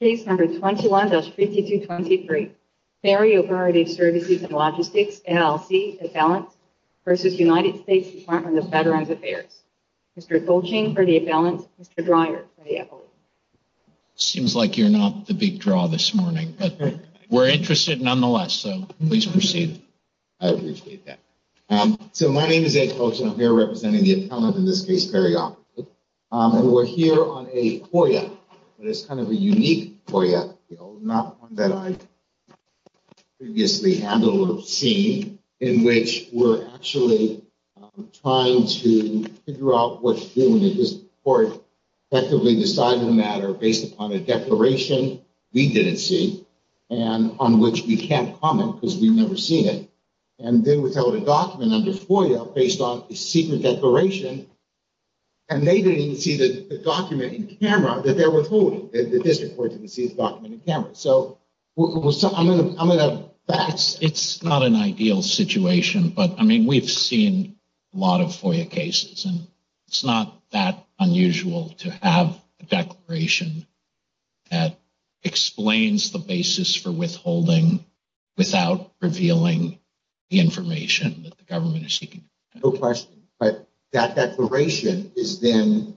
Case number 21-5223, Perioperative Services And Logistics, LLC, Appellant v. United States Department Of Veterans Affairs. Mr. Colchin for the Appellant, Mr. Dreyer for the Appellant. Seems like you're not the big draw this morning, but we're interested nonetheless, so please proceed. I appreciate that. So my name is Ed Colchin, I'm here representing the Appellant in this case, Perioperative, and we're here on a FOIA, but it's kind of a unique FOIA, you know, not one that I've previously handled or seen, in which we're actually trying to figure out what to do when a court effectively decided a matter based upon a declaration we didn't see, and on which we can't comment because we've never seen it. And then we filled a document under FOIA based on a secret declaration, and they didn't see the document in camera that they're withholding. The district court didn't see the document in camera. So I'm going to pass. It's not an ideal situation, but I mean, we've seen a lot of FOIA cases, and it's not that unusual to have a declaration that explains the basis for withholding without revealing the information that the government is seeking. No question, but that declaration is then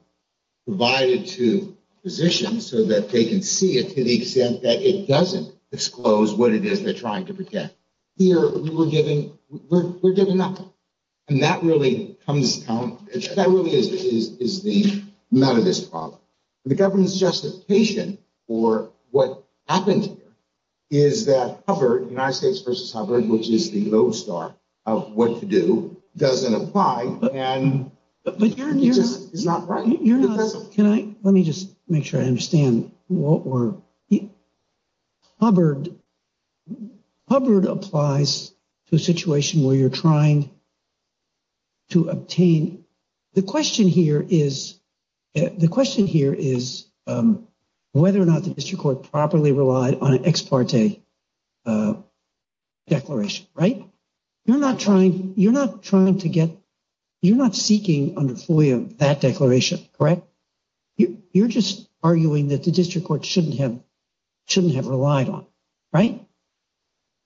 provided to physicians so that they can see it to the extent that it doesn't disclose what it is they're trying to protect. Here, we're giving nothing, and that really comes down, that really is the amount of this problem. The government's justification for what happened here is that Hubbard, United States versus Hubbard, which is of what to do, doesn't apply, and it's just not right. Let me just make sure I understand. Hubbard applies to a situation where you're trying to obtain... The question here is whether or not the district court properly relied on an ex parte declaration, right? You're not seeking under FOIA that declaration, correct? You're just arguing that the district court shouldn't have relied on, right?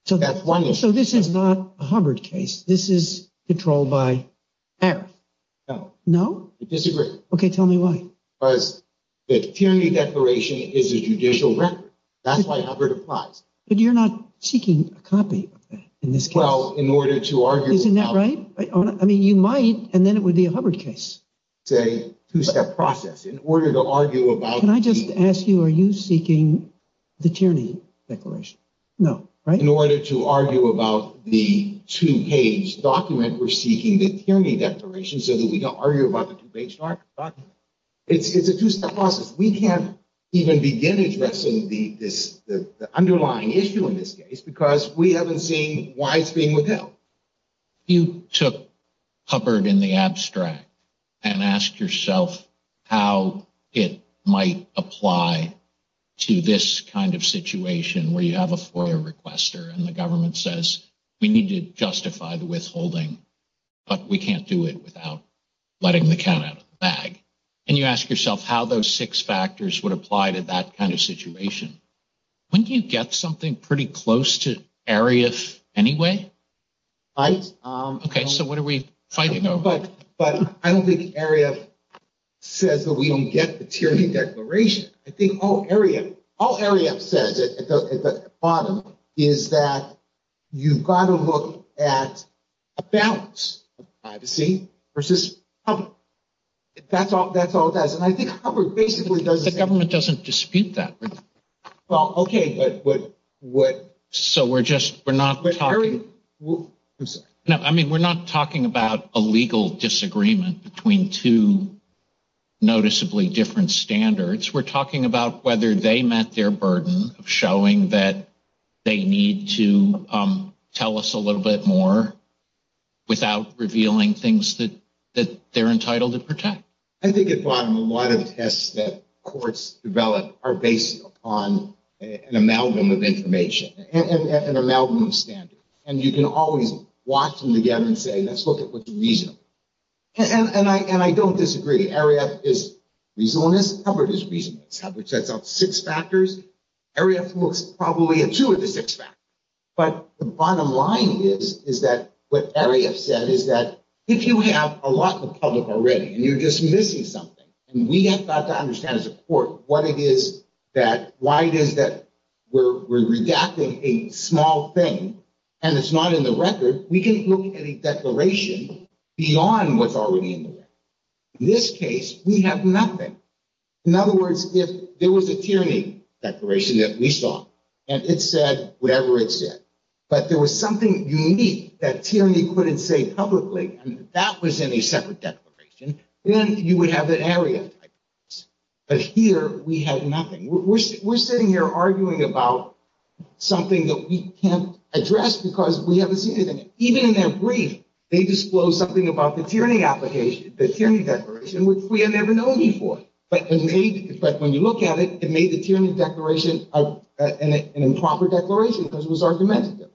So this is not a Hubbard case. This is controlled by Harris. No. No? I disagree. Okay, tell me why. Because tyranny declaration is a judicial record. That's why Hubbard applies. But you're not seeking a copy of that in this case. Well, in order to argue... Isn't that right? I mean, you might, and then it would be a Hubbard case. It's a two-step process. In order to argue about... Can I just ask you, are you seeking the tyranny declaration? No, right? In order to argue about the two-page document, we're seeking the tyranny declaration so that we don't argue about the two-page document. It's a two-step process. We can't even begin addressing the underlying issue in this case because we haven't seen why it's being withheld. You took Hubbard in the abstract and asked yourself how it might apply to this kind of situation where you have a FOIA requester and the government says, we need to justify the withholding, but we can't do it without letting the count out of the bag. And you ask yourself how those six factors would apply to that kind of situation. Wouldn't you get something pretty close to Ariyf anyway? Right. Okay, so what are we fighting over? But I don't think Ariyf says that we don't get the tyranny declaration. I think all Ariyf says at the bottom is that you've got to look at a balance of privacy versus Hubbard. That's all it does. And I think Hubbard basically does... The government doesn't dispute that. Well, okay, but what... So we're just, we're not talking... No, I mean, we're not talking about a legal disagreement between two noticeably different standards. We're talking about whether they met their burden of showing that they need to tell us a little bit more without revealing things that they're entitled to protect. I think at the bottom, a lot of tests that courts develop are based upon an amalgam of information and an amalgam of standards. And you can always watch them together and say, let's look at what's reasonable. And I don't disagree. Ariyf is reasonableness. Hubbard is reasonableness. Hubbard sets out six factors. Ariyf looks probably at two of the six factors. But the bottom line is that what Ariyf said is that if you have a lot of public already and you're just missing something and we have got to understand as a court what it is that... Why it is that we're redacting a small thing and it's not in the record, we can look at a declaration beyond what's already in the record. In this case, we have nothing. In other words, if there was a tyranny declaration that we saw and it said whatever it said, but there was something unique that tyranny couldn't say publicly and that was in a separate declaration, then you would have an Ariyf type of case. But here, we have nothing. We're sitting here arguing about something that we can't address because we haven't seen anything. Even in their brief, they disclose something about the tyranny application, the tyranny declaration, which we had never known before. But when you look at it, it made the tyranny declaration an improper declaration because it was argumentative.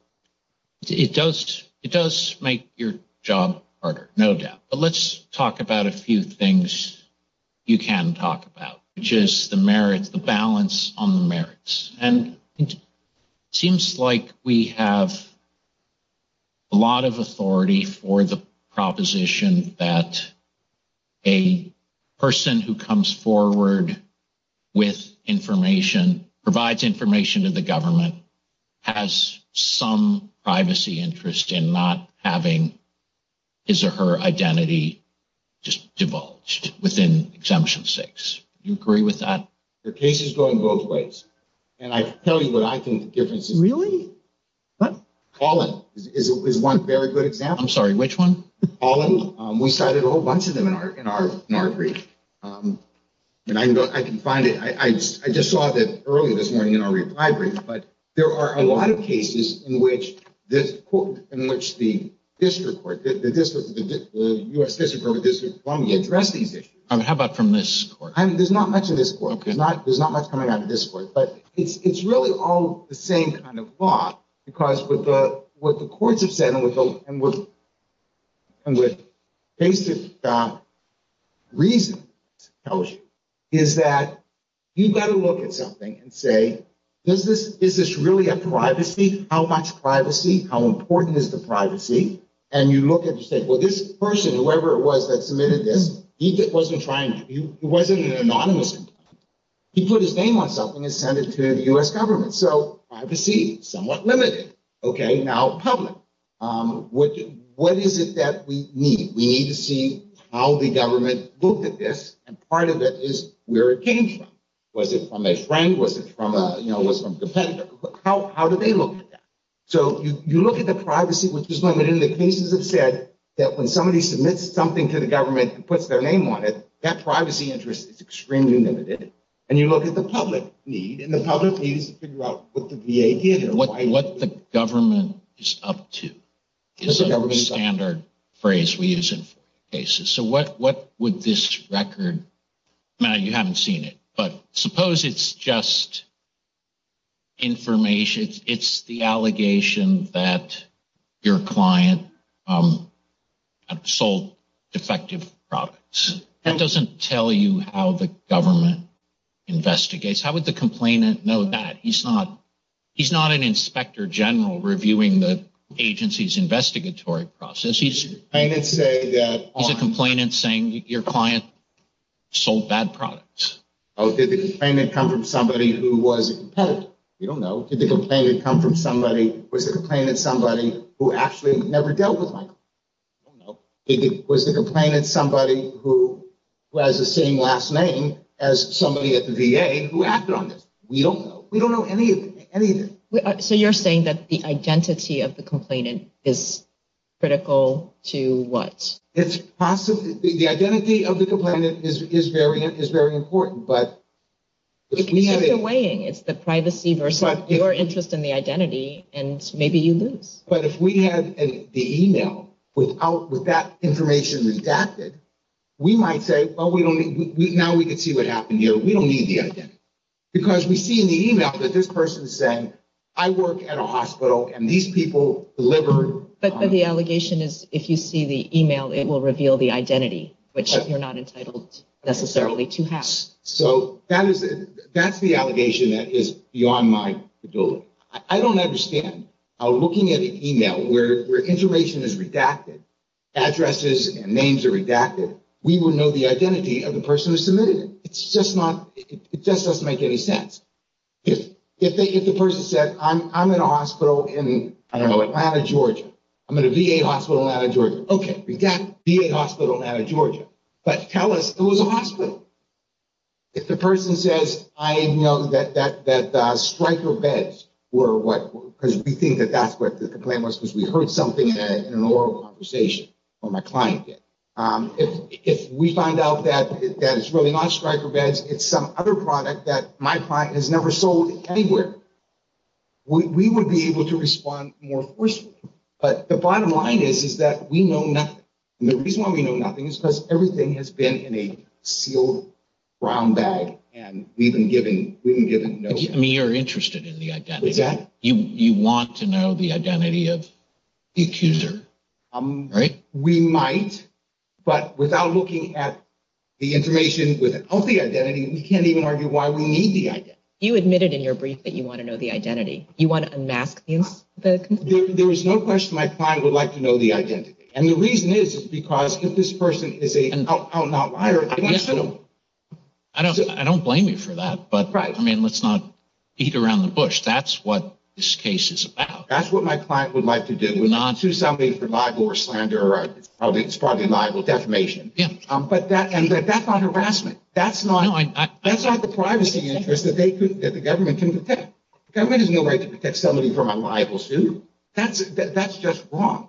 It does make your job harder, no doubt. But let's talk about a few things you can talk about, which is the merits, the balance on the merits. And it seems like we have a lot of authority for the proposition that a person who comes forward with information, provides information to the government, has some privacy interest in not having his or her identity just divulged within Exemption 6. You agree with that? The case is going both ways. And I tell you what I think the difference is. Really? What? Colin is one very good example. I'm sorry, which one? Colin. We cited a whole bunch of them in our brief. And I can find it. I just saw that earlier this morning in our reply brief. But there are a lot of cases in which this court, in which the district court, the U.S. District Court of District of Columbia address these issues. How about from this court? There's not much in this court. There's not much coming out of this court. But it's really all the same kind of law. Because with what the courts have said, and with basic reason, it tells you, is that you've got to look at something and say, is this really a privacy? How much privacy? How important is the privacy? And you look at the state. Well, this person, whoever it was that submitted this, he wasn't trying to, he wasn't an anonymous. He put his name on something and sent it to the U.S. government. So privacy, somewhat limited. Okay. Now, public. What is it that we need? We need to see how the government looked at this. And part of it is where it came from. Was it from a friend? Was it from a, you know, was it from a competitor? How do they look at that? So you look at the privacy, which is limited. And the cases have said that when somebody submits something to the government and puts their name on it, that privacy interest is extremely limited. And you look at the public need and the public needs to figure out what the VA did. What the government is up to is a standard phrase we use in cases. So what would this record, now you haven't seen it, but suppose it's just information. It's the allegation that your client sold defective products. That doesn't tell you how the government investigates. How would the complainant know that? He's not an inspector general reviewing the agency's investigatory process. He's a complainant saying your client sold bad products. Oh, did the complainant come from somebody who was a competitor? We don't know. Did the complainant come from somebody, was the complainant somebody who actually never dealt with Michael? I don't know. Was the complainant somebody who has the same last name as somebody at the VA who acted on this? We don't know. We don't know anything. So you're saying that the identity of the complainant is critical to what? It's possibly, the identity of the complainant is very important, but if we have a- It's the weighing. It's the privacy versus your interest in the identity, and maybe you lose. But if we had the email with that information redacted, we might say, well, now we can see what happened here. We don't need the identity because we see in the email that this person is saying, I work at a hospital and these people delivered- But the allegation is if you see the email, it will reveal the identity, which you're not entitled necessarily to have. So that's the allegation that is beyond my ability. I don't understand how looking at an email where information is redacted, addresses and names are redacted, we will know the identity of the person who submitted it. It just doesn't make any sense. If the person said, I'm in a hospital in, I don't know, Atlanta, Georgia. I'm in a VA hospital in Atlanta, Georgia. Okay, VA hospital in Atlanta, Georgia, but tell us it was a hospital. If the person says, I know that striker beds were what, because we think that that's what the complaint was because we heard something in an oral conversation where my client did. If we find out that it's really not striker beds, it's some other product that my client has never sold anywhere. We would be able to respond more forcefully. But the bottom line is, is that we know nothing. And the reason why we know nothing is because everything has been in a sealed brown bag and we've been given no- I mean, you're interested in the identity. You want to know the identity of the accuser, right? We might, but without looking at the information of the identity, we can't even argue why we need the identity. You admitted in your brief that you want to know the identity. You want to unmask the accuser. There is no question my client would like to know the identity. And the reason is because if this person is a out-and-out liar- I don't blame you for that, but I mean, let's not eat around the bush. That's what this case is about. That's what my client would like to do, would like to sue somebody for liable or slander. It's probably liable defamation. But that's not harassment. That's not the privacy interest that the government can protect. The government has no right to protect somebody from a liable suit. That's just wrong.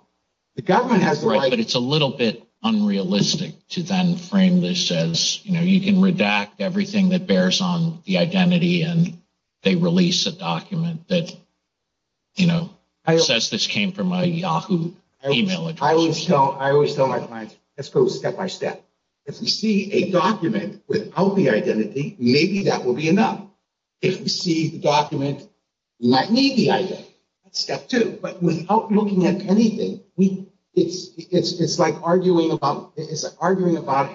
The government has the right- Right, but it's a little bit unrealistic to then frame this as, you know, you can redact everything that bears on the identity and they release a document that, you know, says this came from a Yahoo email address. I always tell my clients, let's go step by step. If we see a document without the identity, maybe that will be enough. If we see the document not need the identity, that's step two. But without looking at anything, it's like arguing about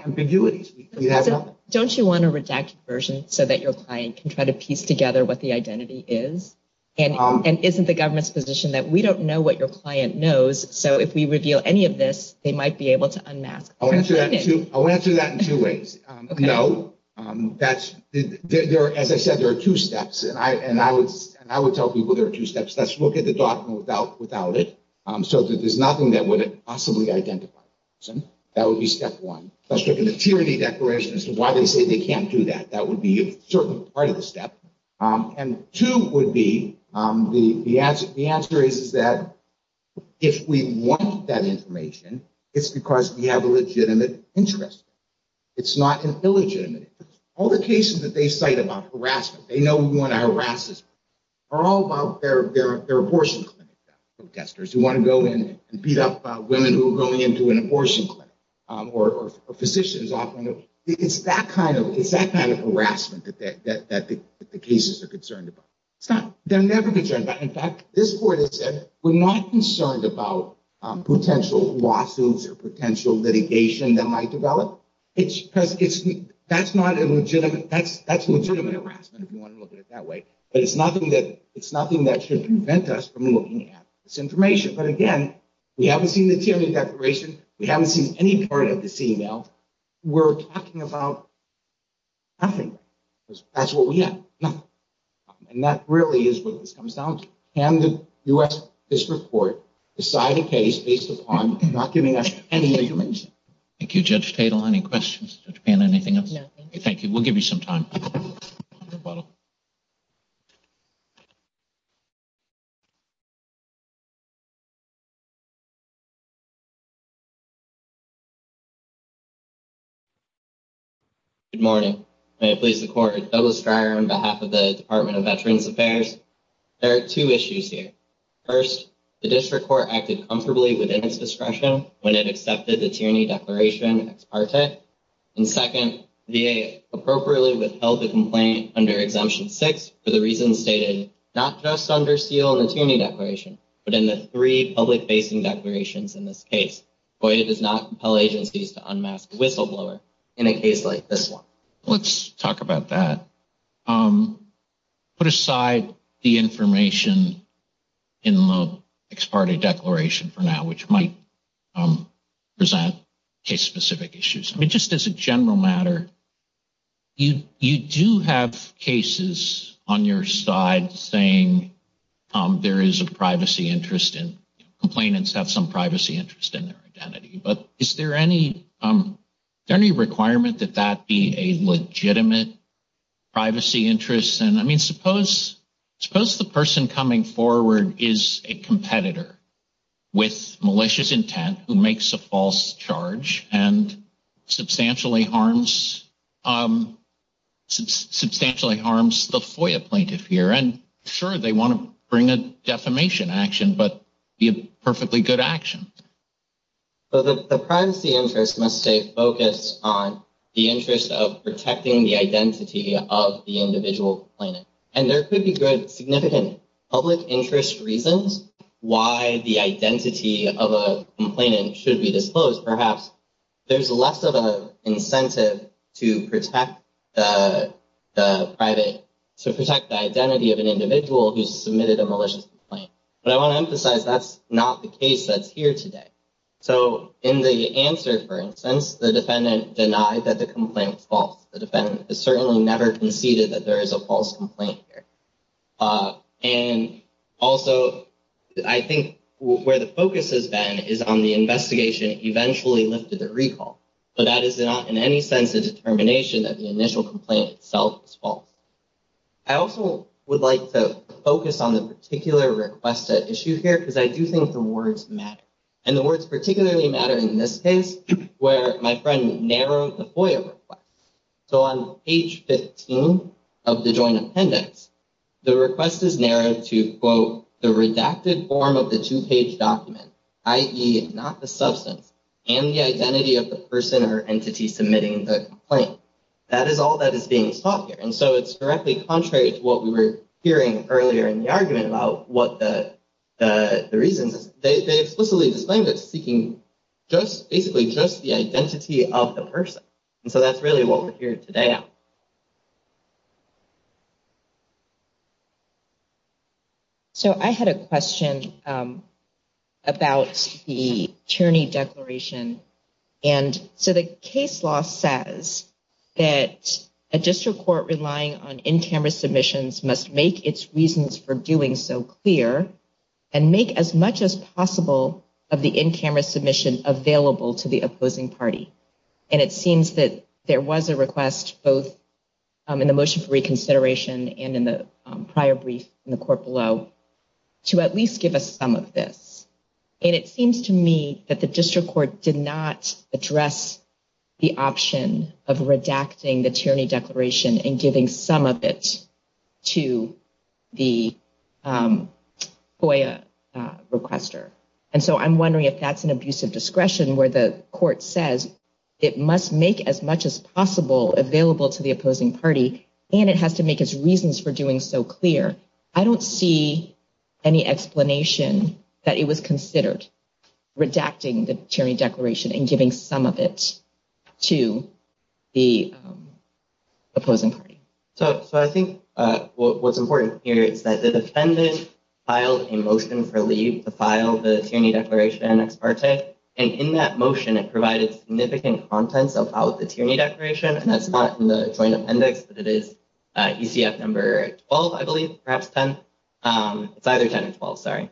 ambiguities. Don't you want to redact your version so that your client can try to piece together what the identity is? And isn't the government's position that we don't know what your client knows, so if we reveal any of this, they might be able to unmask? I'll answer that in two ways. No. As I said, there are two steps. And I would tell people there are two steps. Let's look at the document without it, so that there's nothing that would possibly identify the person. That would be step one. Let's look at the tyranny declaration as to why they say they can't do that. That would be a certain part of the step. And two would be, the answer is that if we want that information, it's because we have a legitimate interest. It's not an illegitimate interest. All the cases that they cite about harassment, they know we want to harass this person, are all about their abortion clinic protesters who want to go in and beat up women who are going into an abortion clinic or physicians. It's that kind of concern. But in fact, this court has said we're not concerned about potential lawsuits or potential litigation that might develop. That's legitimate harassment if you want to look at it that way. But it's nothing that should prevent us from looking at this information. But again, we haven't seen the tyranny declaration. We haven't seen any part of this email. We're talking about nothing. That's what we have. Nothing. And that really is what this comes down to. Can the U.S. District Court decide a case based upon not giving us any information? Thank you, Judge Tatel. Any questions? Judge Payne, anything else? No, thank you. Thank you. We'll give you some time. Good morning. May it please the Court. Douglas Dreyer on behalf of the Department of Veterans Affairs. There are two issues here. First, the District Court acted comfortably within its discretion when it accepted the tyranny declaration ex parte. And second, the VA appropriately withheld the complaint under Exemption 6 for the reasons stated not just under SEAL and the tyranny declaration, but in the three public-facing declarations in this case. FOIA does not allow agencies to unmask a whistleblower in a case like this one. Let's talk about that. Put aside the information in the ex parte declaration for now, which might present case-specific issues. I mean, just as a general matter, you do have cases on your side saying there is a privacy interest and complainants have some privacy interest in their identity. But is there any requirement that that be a legitimate privacy interest? And I mean, suppose the person coming forward is a competitor with malicious intent who makes a false charge and substantially harms the FOIA plaintiff here. And sure, they want to bring a defamation action, but be a perfectly good action. So the privacy interest must stay focused on the interest of protecting the identity of the individual complainant. And there could be good, significant public interest reasons why the identity of a complainant should be disclosed. Perhaps there's less of an incentive to protect the private, to protect the identity of an individual who submitted a malicious complaint. But I want to emphasize that's not the case that's here today. So in the answer, for instance, the defendant denied that the complaint was false. The defendant certainly never conceded that there is a false complaint here. And also, I think where the focus has been is on the investigation eventually lifted at recall. But that is not in any sense a determination that the initial complaint itself is false. I also would like to focus on the particular request at issue here, because I do think the words matter. And the words particularly matter in this case, where my friend narrowed the FOIA request. So on page 15 of the joint appendix, the request is narrowed to, quote, the redacted form of the two-page document, i.e., not the complaint. That is all that is being taught here. And so it's directly contrary to what we were hearing earlier in the argument about what the reasons is. They explicitly disclaimed it's seeking just basically just the identity of the person. And so that's really what we're hearing today. Yeah. So I had a question about the attorney declaration. And so the case law says that a district court relying on in-camera submissions must make its reasons for doing so clear and make as much as possible of the in-camera submission available to the opposing party. And it seems that there was a request both in the motion for reconsideration and in the prior brief in the court below to at least give us some of this. And it seems to me that the district court did not address the option of redacting the tyranny declaration and giving some of it to the FOIA requester. And so I'm wondering if that's an abusive discretion where the court says it must make as much as possible available to the opposing party and it has to make its reasons for doing so clear. I don't see any explanation that it was considered redacting the tyranny declaration and some of it to the opposing party. So I think what's important here is that the defendant filed a motion for leave to file the tyranny declaration ex parte. And in that motion, it provided significant contents about the tyranny declaration. And that's not in the joint appendix, but it is ECF number 12, I believe, perhaps 10. It's either 10 or 12, sorry.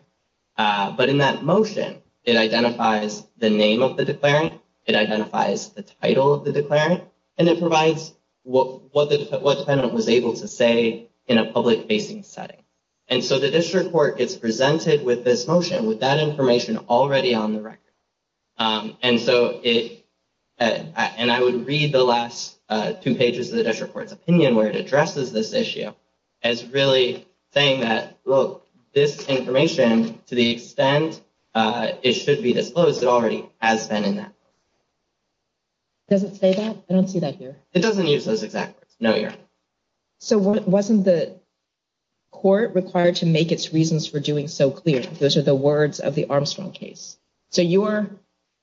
But in that motion, it identifies the name of the declarant, it identifies the title of the declarant, and it provides what the defendant was able to say in a public facing setting. And so the district court gets presented with this motion with that information already on the record. And so it, and I would read the last two pages of the district court's opinion where it addresses this issue as really saying that, look, this information to the extent it should be disclosed, it already has been in that. Does it say that? I don't see that here. It doesn't use those exact words. No, Your Honor. So wasn't the court required to make its reasons for doing so clear? Those are the words of the Armstrong case. So you are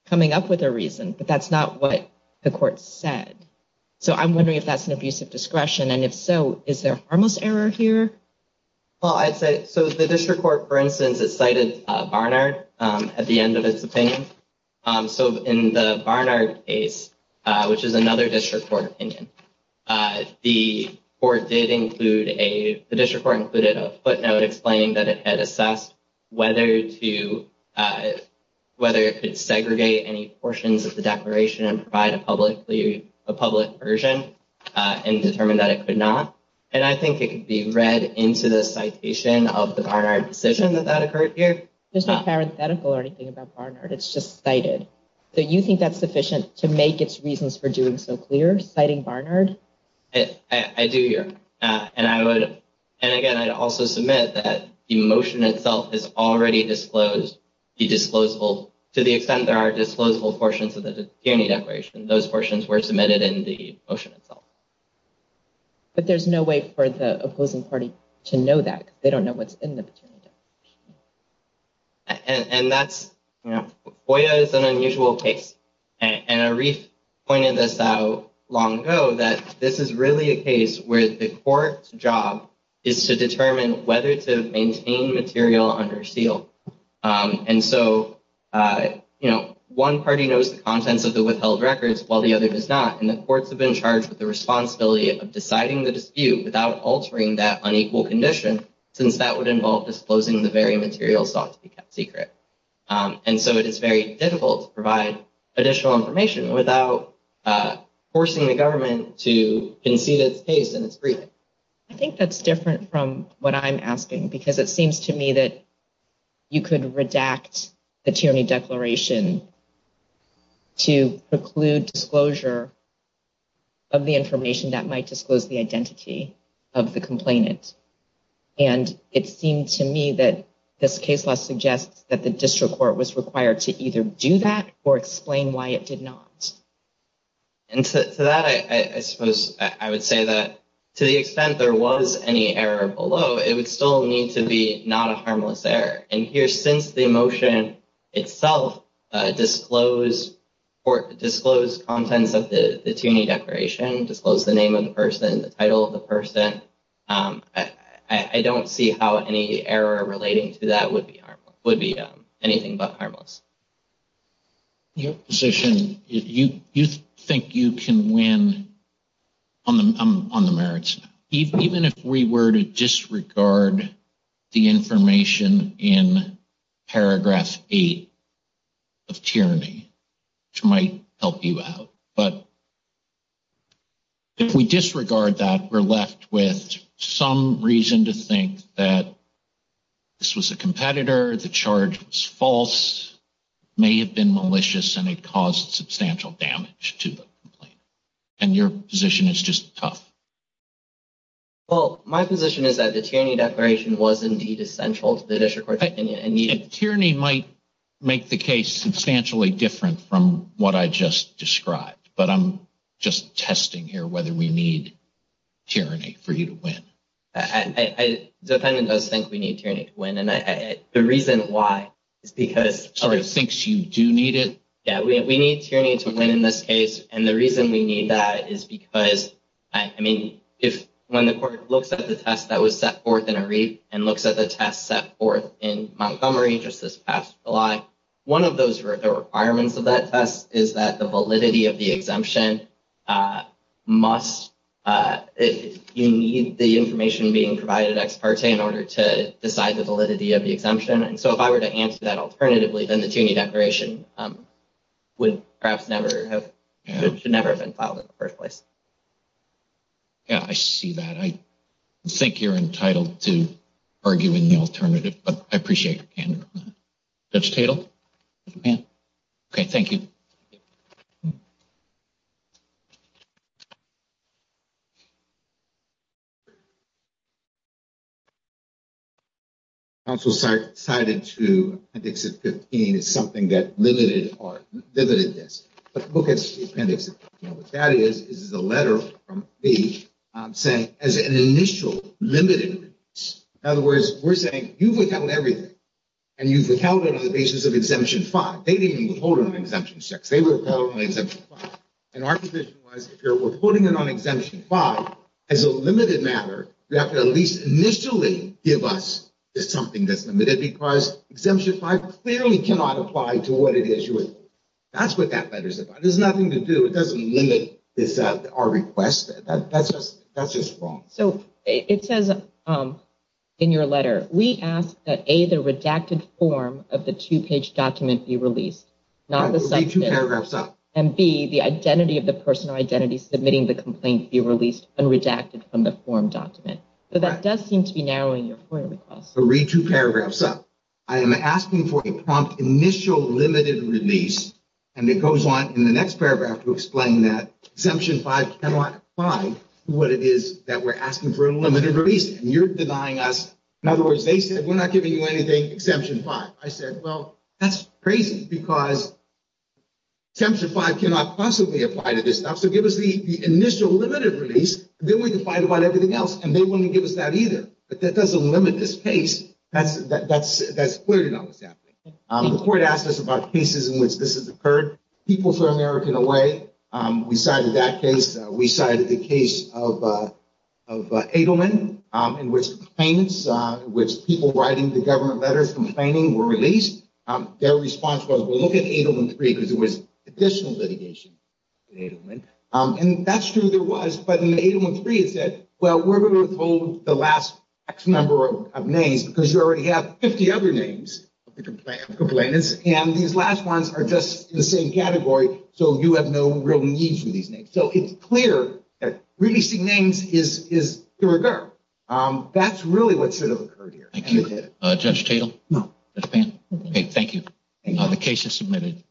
coming up with a reason, but that's not what the court said. So I'm wondering if that's an abuse of discretion and if so, is there harmless error here? Well, I'd say, so the district court, for instance, it cited Barnard at the end of its opinion. So in the Barnard case, which is another district court opinion, the court did include a, the district court included a footnote explaining that it had assessed whether to, whether it could segregate any portions of the declaration and publicly, a public version and determined that it could not. And I think it could be read into the citation of the Barnard decision that that occurred here. There's no parenthetical or anything about Barnard. It's just cited. So you think that's sufficient to make its reasons for doing so clear, citing Barnard? I do, Your Honor. And I would, and again, I'd also submit that the motion itself is already disclosed, the disclosable, to the extent there are disclosable portions of the Petunia declaration, those portions were submitted in the motion itself. But there's no way for the opposing party to know that they don't know what's in the Petunia. And that's, you know, FOIA is an unusual case. And Arif pointed this out long ago, that this is really a case where the court's job is to determine whether to maintain material under seal. And so, you know, one party knows the contents of the withheld records while the other does not. And the courts have been charged with the responsibility of deciding the dispute without altering that unequal condition, since that would involve disclosing the very material sought to be kept secret. And so it is very difficult to provide additional information without forcing the government to concede its case in its brief. I think that's different from what I'm asking, because it seems to me that you could redact the Petunia declaration to preclude disclosure of the information that might disclose the identity of the complainant. And it seemed to me that this case law suggests that the district court was required to either do that or explain why it did not. And to that, I suppose I would say that to the extent there was any error below, it would still need to be not a harmless error. And here, since the motion itself disclosed contents of the Petunia declaration, disclosed the name of the person, the title of would be anything but harmless. Your position, you think you can win on the merits, even if we were to disregard the information in paragraph eight of tyranny, which might help you out. But if we disregard that, we're left with some reason to think that this was a competitor, the charge was false, may have been malicious, and it caused substantial damage to the complainant. And your position is just tough. Well, my position is that the tyranny declaration was indeed essential to the district court. Tyranny might make the case substantially different from what I just described, but I'm just testing here whether we need tyranny for you to win. I, the defendant does think we need tyranny to win. And the reason why is because... So he thinks you do need it? Yeah, we need tyranny to win in this case. And the reason we need that is because, I mean, if when the court looks at the test that was set forth in Areep and looks at the test set forth in Montgomery just this past July, one of those requirements of that test is that the validity of the exemption must, you need the information being provided ex parte in order to decide the validity of the exemption. And so if I were to answer that alternatively, then the tyranny declaration would perhaps never have, should never have been filed in the first place. Yeah, I see that. I think you're entitled to argue in the alternative, but I appreciate it. Judge Tatel? Okay, thank you. Counsel cited to Appendix 15 as something that limited or limited this. But the book is the appendix. What that is, is the letter from me saying as an initial limited. In other words, we're saying you've withheld everything and you've withheld it on the basis of Exemption 5. They didn't withhold it on Exemption 6. They withheld it on Exemption 5. And our position was, if you're withholding it on Exemption 5, as a limited matter, you have to at least initially give us something that's limited because Exemption 5 clearly cannot apply to what it issued. That's what that letter's about. There's nothing to do. It doesn't limit our request. That's just wrong. So it says in your letter, we ask that A, the redacted form of the two-page document be released. Read two paragraphs up. And B, the identity of the person or identity submitting the complaint be released and redacted from the form document. So that does seem to be narrowing your point of request. Read two paragraphs up. I am asking for a prompt initial limited release. And it goes on in the next paragraph to explain that Exemption 5 cannot apply to what it is that we're asking for a limited release. And you're denying us. In other words, they said, we're not giving you anything Exemption 5. I said, well, that's crazy because Exemption 5 cannot possibly apply to this stuff. So give us the initial limited release. Then we can find about everything else. And they wouldn't give us that either. But that doesn't limit this case. That's clear to know what's happening. The court asked us about cases in which this has occurred. People throw American away. We cited that case. We cited the case of Adelman in which people writing the government letters complaining were released. Their response was, well, look at Adelman 3 because it was additional litigation in Adelman. And that's true there was. But in the Adelman 3, it said, well, we're going to withhold the last X number of names because you already have 50 other names of the complainants. And these last ones are just the same category. So you have no real need for these names. So it's clear that releasing names is the rigor. That's really what should have occurred here. Thank you. Judge Tatel? No. Judge Pan? Okay. Thank you. The case is submitted.